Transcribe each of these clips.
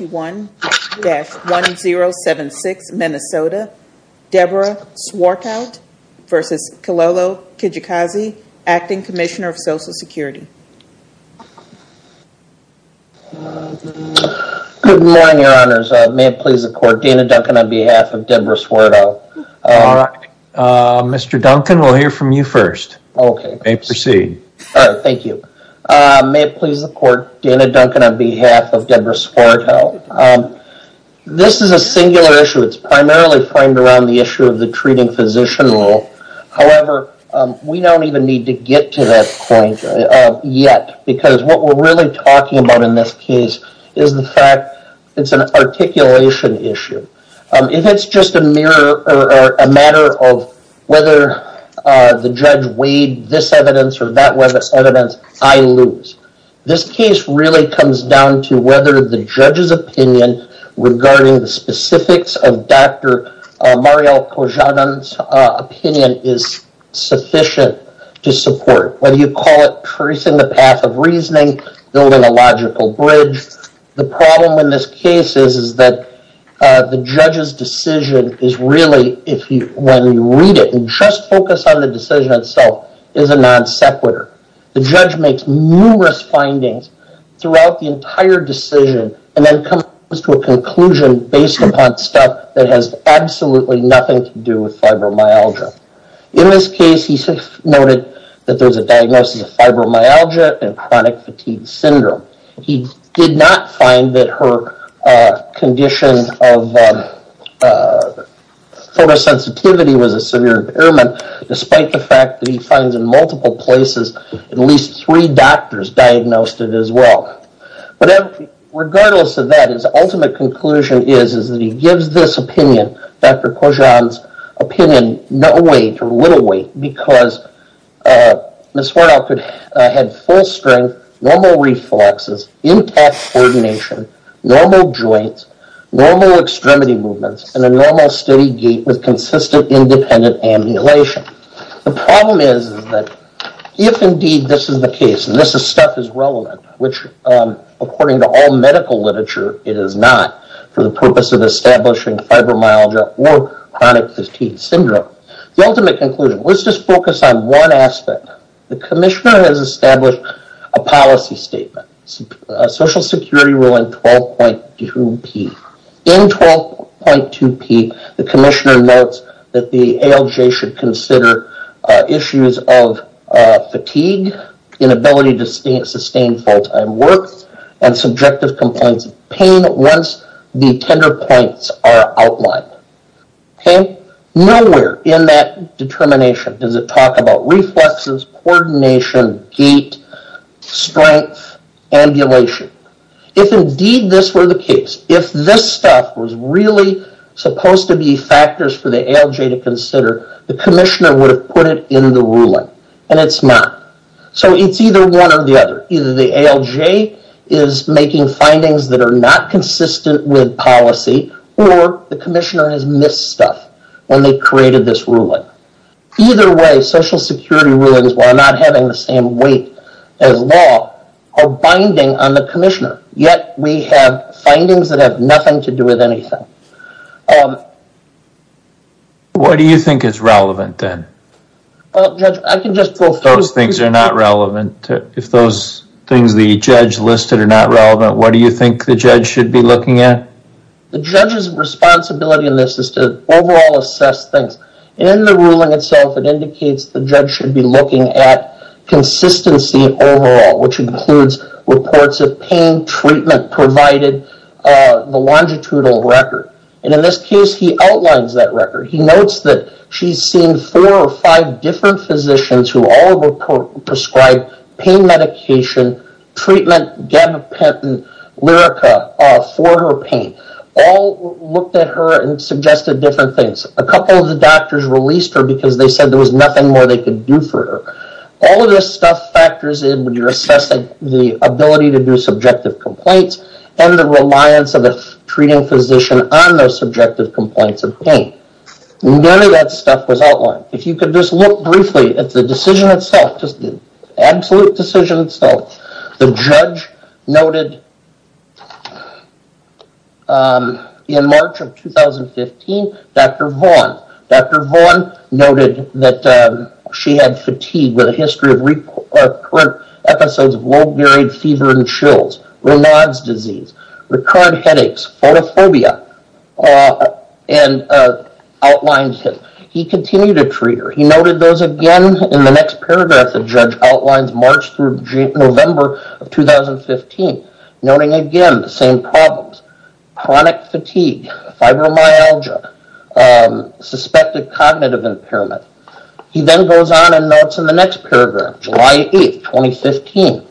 1-1076 Minnesota, Deborah Swarthout v. Kilolo Kijakazi, Acting Commissioner of Social Security. Good morning, Your Honors. May it please the Court, Dana Duncan on behalf of Deborah Swarthout. Mr. Duncan, we'll hear from you first. You may proceed. All right, thank you. May it please the Court, Dana Duncan on behalf of Deborah Swarthout. This is a singular issue. It's primarily framed around the issue of the treating physician rule. However, we don't even need to get to that point yet because what we're really talking about in this case is the fact it's an articulation issue. If it's just a matter of whether the judge weighed this evidence or that evidence, I lose. This case really comes down to whether the judge's opinion regarding the specifics of Dr. Mariel Kozhanin's opinion is sufficient to support. Whether you call it tracing the path of reasoning, building a logical bridge, the problem in this case is that the judge's decision is really, when you read it and just focus on the decision itself, is a non sequitur. The judge makes numerous findings throughout the entire decision and then comes to a conclusion based upon stuff that has absolutely nothing to do with fibromyalgia. In this case, he noted that there's a diagnosis of fibromyalgia and chronic fatigue syndrome. He did not find that her condition of photosensitivity was a severe impairment, despite the fact that he finds in multiple places at least three doctors diagnosed it as well. Regardless of that, his ultimate conclusion is that he gives this opinion, Dr. Kozhanin's opinion, no weight or little weight because Ms. Wardoff had full strength, normal reflexes, intact coordination, normal joints, normal extremity movements, and a normal steady gait with consistent independent ambulation. The problem is that if indeed this is the case and this stuff is relevant, which according to all medical literature it is not, for the purpose of establishing fibromyalgia or chronic fatigue syndrome, the ultimate conclusion, let's just focus on one aspect. The commissioner has established a policy statement, a social security rule in 12.2P. In 12.2P, the commissioner notes that the ALJ should consider issues of fatigue, inability to sustain full-time work, and subjective complaints of pain once the tender points are outlined. Nowhere in that determination does it talk about reflexes, coordination, gait, strength, ambulation. If indeed this were the case, if this stuff was really supposed to be factors for the ALJ to consider, the commissioner would have put it in the ruling, and it's not. So it's either one or the other. Either the ALJ is making findings that are not consistent with policy, or the commissioner has missed stuff when they created this ruling. Either way, social security rulings, while not having the same weight as law, are binding on the commissioner. Yet we have findings that have nothing to do with anything. What do you think is relevant then? Those things are not relevant. If those things the judge listed are not relevant, what do you think the judge should be looking at? The judge's responsibility in this is to overall assess things. In the ruling itself, it indicates the judge should be looking at consistency overall, which includes reports of pain, treatment provided, the longitudinal record. In this case, he outlines that record. He notes that she's seen four or five different physicians who all prescribed pain medication, treatment, gabapentin, Lyrica for her pain. All looked at her and suggested different things. A couple of the doctors released her because they said there was nothing more they could do for her. All of this stuff factors in when you're assessing the ability to do subjective complaints and the reliance of a treating physician on those subjective complaints of pain. None of that stuff was outlined. If you could just look briefly at the decision itself, the absolute decision itself. The judge noted in March of 2015, Dr. Vaughn. Dr. Vaughn noted that she had fatigue with a history of recurrent episodes of low varied fever and chills, Renaud's disease, recurrent headaches, photophobia, and outlined him. He continued to treat her. He noted those again in the next paragraph the judge outlines March through November of 2015. Noting again the same problems. Chronic fatigue, fibromyalgia, suspected cognitive impairment. He then goes on and notes in the next paragraph July 8, 2015.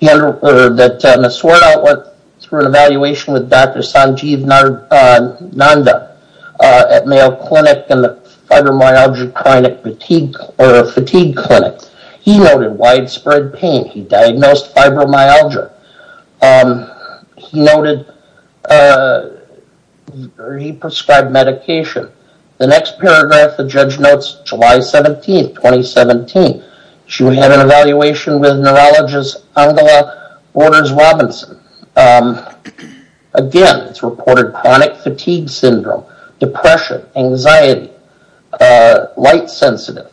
He noted that Ms. Ward out went through an evaluation with Dr. Sanjeev Nanda at Mayo Clinic and the fibromyalgia chronic fatigue clinic. He noted widespread pain. He diagnosed fibromyalgia. He noted he prescribed medication. The next paragraph the judge notes July 17, 2017. She would have an evaluation with neurologist Angela Waters Robinson. Again, it's reported chronic fatigue syndrome, depression, anxiety, light sensitive.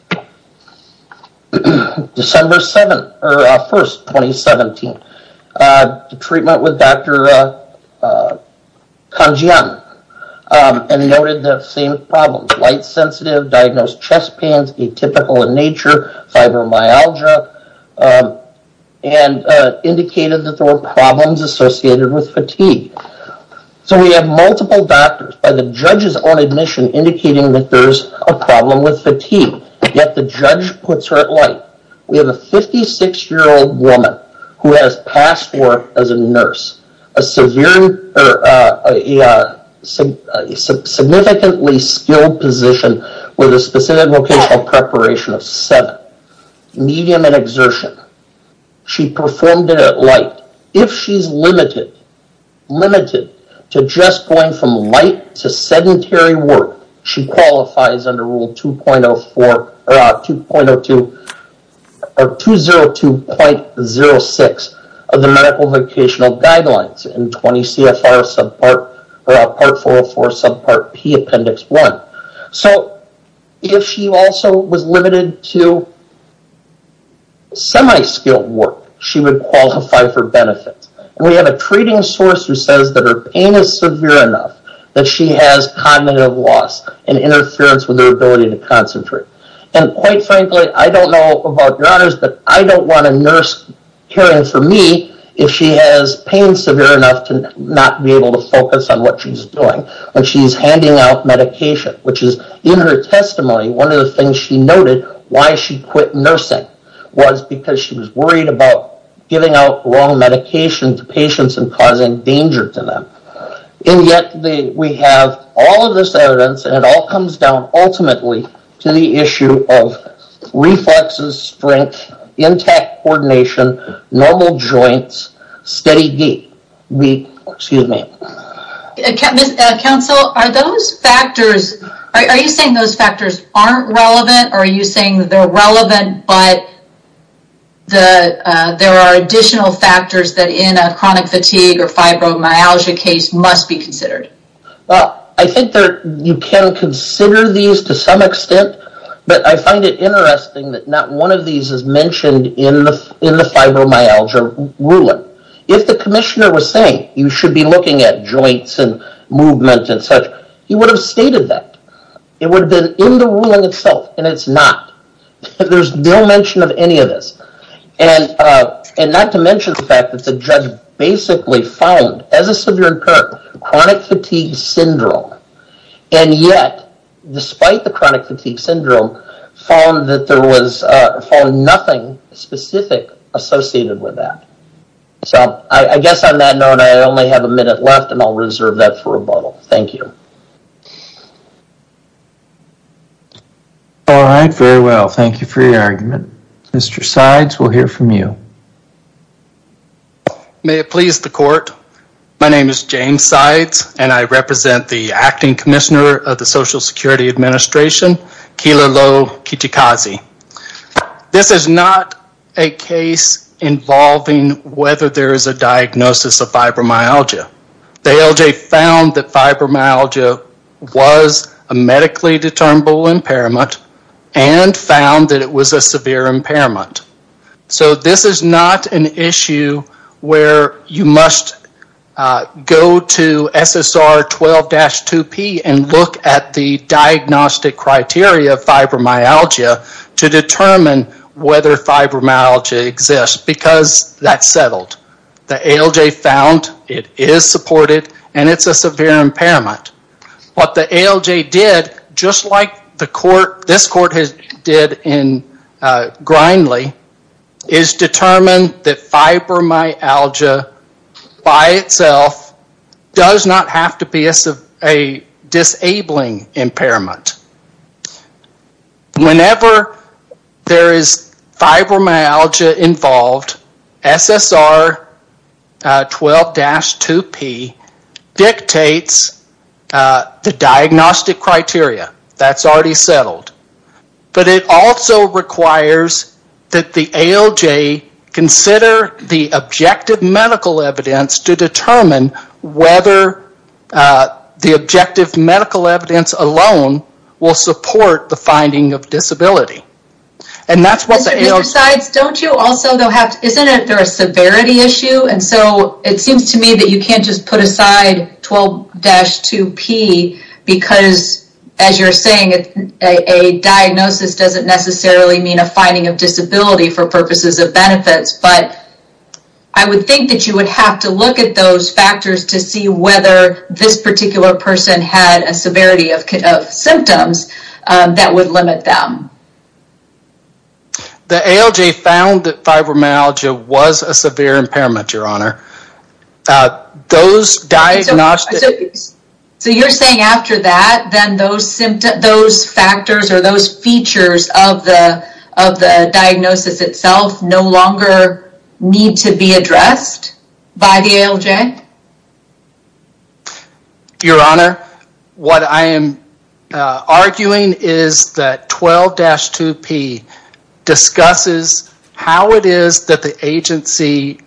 December 1, 2017. Treatment with Dr. Kanjian and noted the same problems. Light sensitive, diagnosed chest pains, atypical in nature, fibromyalgia, and indicated that there were problems associated with fatigue. So we have multiple doctors. The judge is on admission indicating that there's a problem with fatigue. Yet the judge puts her at light. We have a 56-year-old woman who has passed work as a nurse. A significantly skilled position with a specific vocational preparation of 7. Medium and exertion. She performed it at light. If she's limited to just going from light to sedentary work, she qualifies under Rule 202.06 of the Medical Vocational Guidelines in 20 CFR Part 404 Subpart P Appendix 1. So if she also was limited to semi-skilled work, she would qualify for benefits. We have a treating source who says that her pain is severe enough that she has cognitive loss and interference with her ability to concentrate. And quite frankly, I don't know about your honors, but I don't want a nurse caring for me if she has pain severe enough to not be able to focus on what she's doing when she's handing out medication, which is in her testimony. One of the things she noted why she quit nursing was because she was worried about giving out wrong medication to patients and causing danger to them. And yet we have all of this evidence and it all comes down ultimately to the issue of reflexes, strength, intact coordination, normal joints, steady gait. Excuse me. Counsel, are you saying those factors aren't relevant or are you saying they're relevant but there are additional factors that in a chronic fatigue or fibromyalgia case must be considered? Well, I think you can consider these to some extent, but I find it interesting that not one of these is mentioned in the fibromyalgia ruling. If the commissioner was saying you should be looking at joints and movement and such, he would have stated that. It would have been in the ruling itself and it's not. There's no mention of any of this. And not to mention the fact that the judge basically found, as a severe incur, chronic fatigue syndrome. And yet, despite the chronic fatigue syndrome, found that there was nothing specific associated with that. So, I guess on that note, I only have a minute left and I'll reserve that for rebuttal. Thank you. All right. Very well. Thank you for your argument. Mr. Sides, we'll hear from you. May it please the court, my name is James Sides and I represent the acting commissioner of the Social Security Administration, Keila Lowe Kichikaze. This is not a case involving whether there is a diagnosis of fibromyalgia. The ALJ found that fibromyalgia was a medically determinable impairment and found that it was a severe impairment. So, this is not an issue where you must go to SSR 12-2P and look at the diagnostic criteria of fibromyalgia to determine whether fibromyalgia exists because that's settled. The ALJ found it is supported and it's a severe impairment. What the ALJ did, just like this court did in Grindley, is determine that fibromyalgia by itself does not have to be a disabling impairment. Whenever there is fibromyalgia involved, SSR 12-2P dictates the diagnostic criteria. That's already settled. But it also requires that the ALJ consider the objective medical evidence to determine whether the objective medical evidence alone will support the finding of disability. And that's what the ALJ... Mr. Sides, don't you also have to...isn't there a severity issue? And so, it seems to me that you can't just put aside 12-2P because, as you're saying, a diagnosis doesn't necessarily mean a finding of disability for purposes of benefits. But I would think that you would have to look at those factors to see whether this particular person had a severity of symptoms that would limit them. The ALJ found that fibromyalgia was a severe impairment, Your Honor. So you're saying after that, then those factors or those features of the diagnosis itself no longer need to be addressed by the ALJ? Your Honor, what I am arguing is that 12-2P discusses how it is that the agency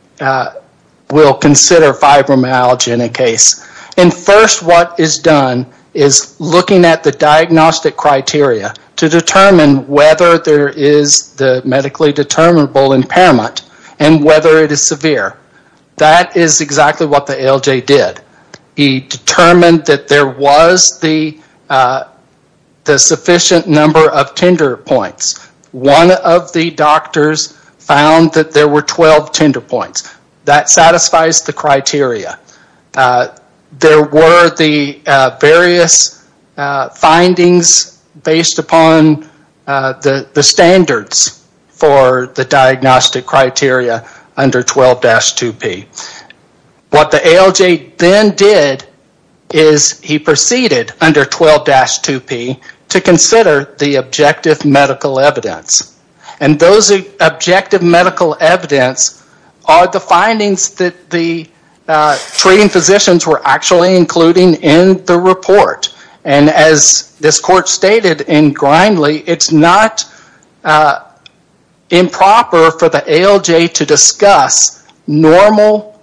will consider fibromyalgia in a case. And first, what is done is looking at the diagnostic criteria to determine whether there is the medically determinable impairment and whether it is severe. That is exactly what the ALJ did. He determined that there was the sufficient number of tender points. One of the doctors found that there were 12 tender points. That satisfies the criteria. There were the various findings based upon the standards for the diagnostic criteria under 12-2P. What the ALJ then did is he proceeded under 12-2P to consider the objective medical evidence. And those objective medical evidence are the findings that the treating physicians were actually including in the report. And as this court stated in Grindley, it's not improper for the ALJ to discuss normal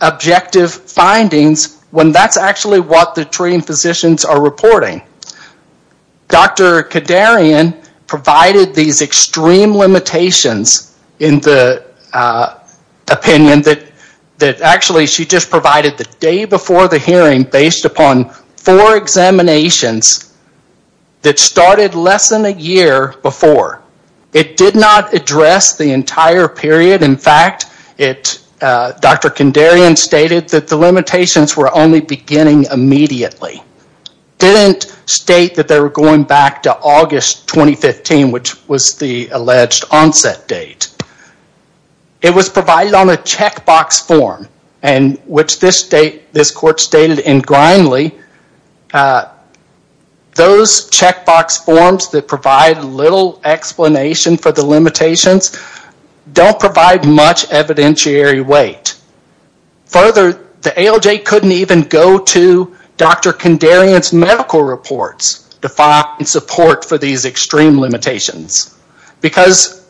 objective findings when that's actually what the treating physicians are reporting. Dr. Kandarian provided these extreme limitations in the opinion that actually she just provided the day before the hearing based upon four examinations that started less than a year before. It did not address the entire period. In fact, Dr. Kandarian stated that the limitations were only beginning immediately. Didn't state that they were going back to August 2015, which was the alleged onset date. It was provided on a checkbox form, which this court stated in Grindley, those checkbox forms that provide little explanation for the limitations don't provide much evidentiary weight. Further, the ALJ couldn't even go to Dr. Kandarian's medical reports to find support for these extreme limitations. Because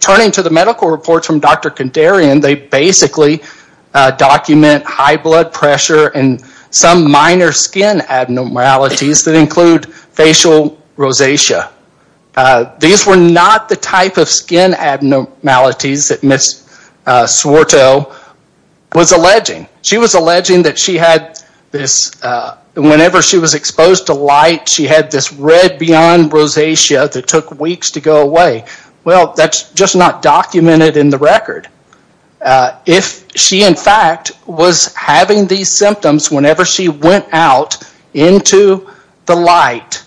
turning to the medical reports from Dr. Kandarian, they basically document high blood pressure and some minor skin abnormalities that include facial rosacea. These were not the type of skin abnormalities that Ms. Swarto was alleging. She was alleging that whenever she was exposed to light, she had this red beyond rosacea that took weeks to go away. Well, that's just not documented in the record. If she in fact was having these symptoms whenever she went out into the light,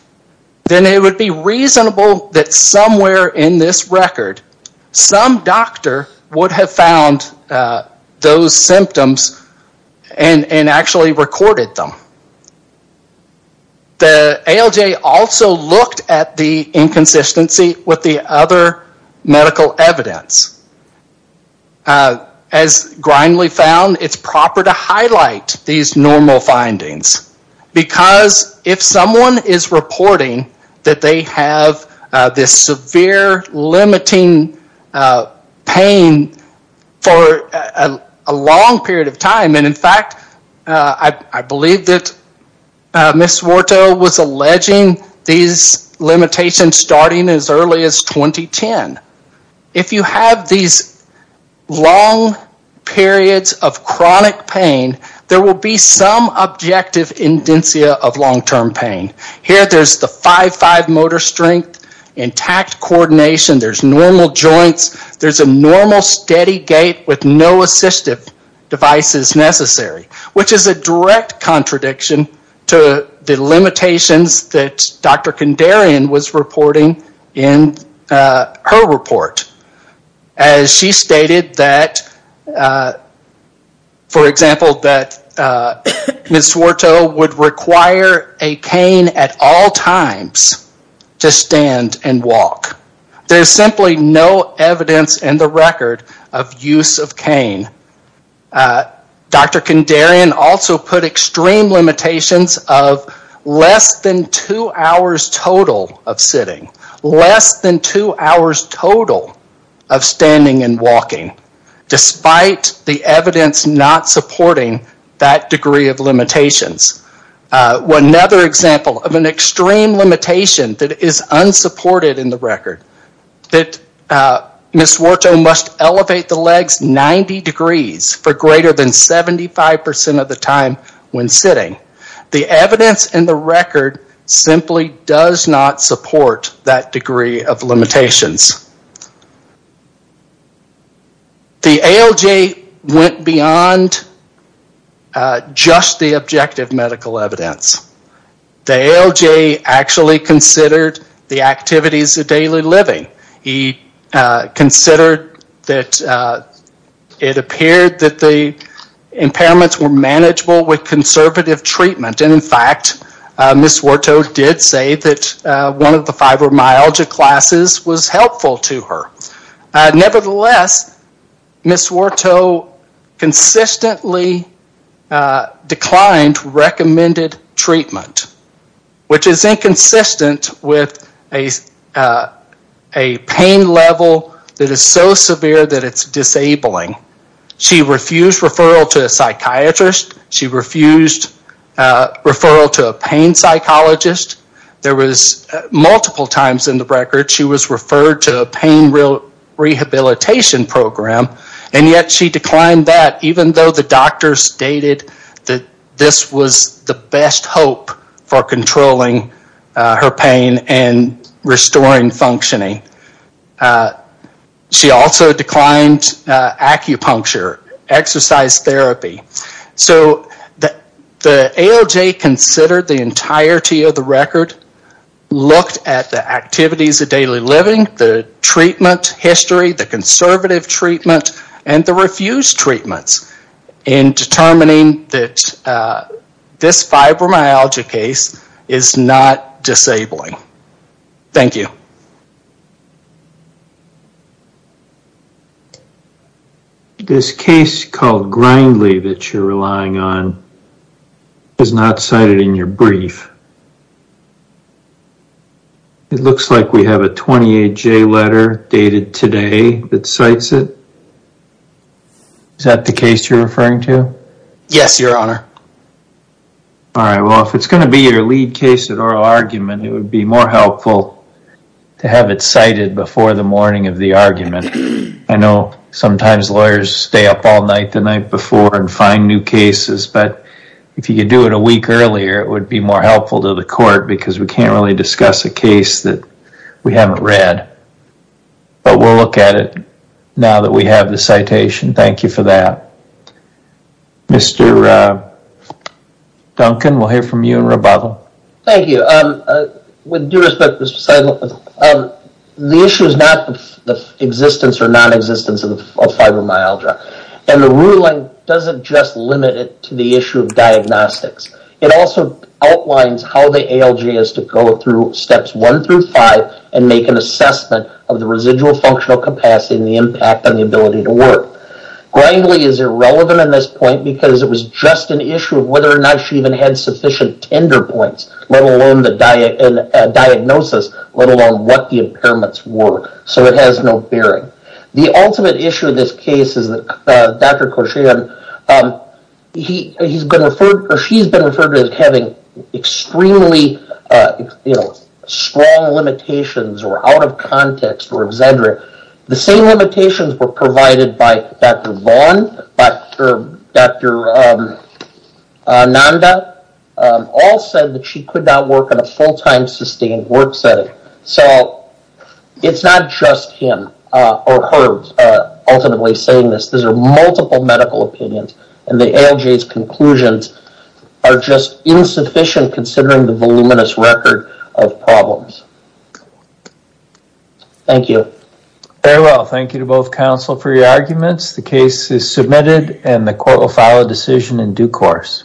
then it would be reasonable that somewhere in this record, some doctor would have found those symptoms and actually recorded them. The ALJ also looked at the inconsistency with the other medical evidence. As Grindley found, it's proper to highlight these normal findings. Because if someone is reporting that they have this severe limiting pain for a long period of time, and in fact, I believe that Ms. Swarto was alleging these limitations starting as early as 2010. If you have these long periods of chronic pain, there will be some objective indentia of long-term pain. Here, there's the 5-5 motor strength, intact coordination, there's normal joints, there's a normal steady gait with no assistive devices necessary, which is a direct contradiction to the limitations that Dr. Kandarian was reporting in her report. As she stated that, for example, that Ms. Swarto would require a cane at all times to stand and walk. There's simply no evidence in the record of use of cane. Dr. Kandarian also put extreme limitations of less than two hours total of sitting, less than two hours total of standing and walking, despite the evidence not supporting that degree of limitations. Another example of an extreme limitation that is unsupported in the record, that Ms. Swarto must elevate the legs 90 degrees for greater than 75% of the time when sitting. The evidence in the record simply does not support that degree of limitations. The ALJ went beyond just the objective medical evidence. The ALJ actually considered the activities of daily living. He considered that it appeared that the impairments were manageable with conservative treatment. And in fact, Ms. Swarto did say that one of the fibromyalgia classes was helpful to her. Nevertheless, Ms. Swarto consistently declined recommended treatment, which is inconsistent with a pain level that is so severe that it's disabling. She refused referral to a psychiatrist. She refused referral to a pain psychologist. There was multiple times in the record she was referred to a pain rehabilitation program, and yet she declined that even though the doctor stated that this was the best hope for controlling her pain and restoring functioning. She also declined acupuncture, exercise therapy. So the ALJ considered the entirety of the record, looked at the activities of daily living, the treatment history, the conservative treatment, and the refused treatments in determining that this fibromyalgia case is not disabling. Thank you. This case called Grindley that you're relying on is not cited in your brief. It looks like we have a 28-J letter dated today that cites it. Is that the case you're referring to? Yes, Your Honor. All right. Well, if it's going to be your lead case at oral argument, it would be more helpful to have it cited before the morning of the argument. I know sometimes lawyers stay up all night the night before and find new cases, but if you could do it a week earlier, it would be more helpful to the court because we can't really discuss a case that we haven't read. But we'll look at it now that we have the citation. Thank you for that. Mr. Duncan, we'll hear from you in rebuttal. Thank you. With due respect, the issue is not the existence or nonexistence of fibromyalgia, and the ruling doesn't just limit it to the issue of diagnostics. It also outlines how the ALJ has to go through steps one through five and make an assessment of the residual functional capacity and the impact on the ability to work. Grangley is irrelevant in this point because it was just an issue of whether or not she even had sufficient tender points, let alone the diagnosis, let alone what the impairments were. So it has no bearing. The ultimate issue of this case is that Dr. Kosherian, she's been referred to as having extremely strong limitations or out of context or exaggerated. The same limitations were provided by Dr. Vaughn, Dr. Nanda, all said that she could not work on a full-time sustained work setting. So it's not just him or her ultimately saying this. These are multiple medical opinions, and the ALJ's conclusions are just insufficient considering the voluminous record of problems. Thank you. Very well. Thank you to both counsel for your arguments. The case is submitted and the court will file a decision in due course.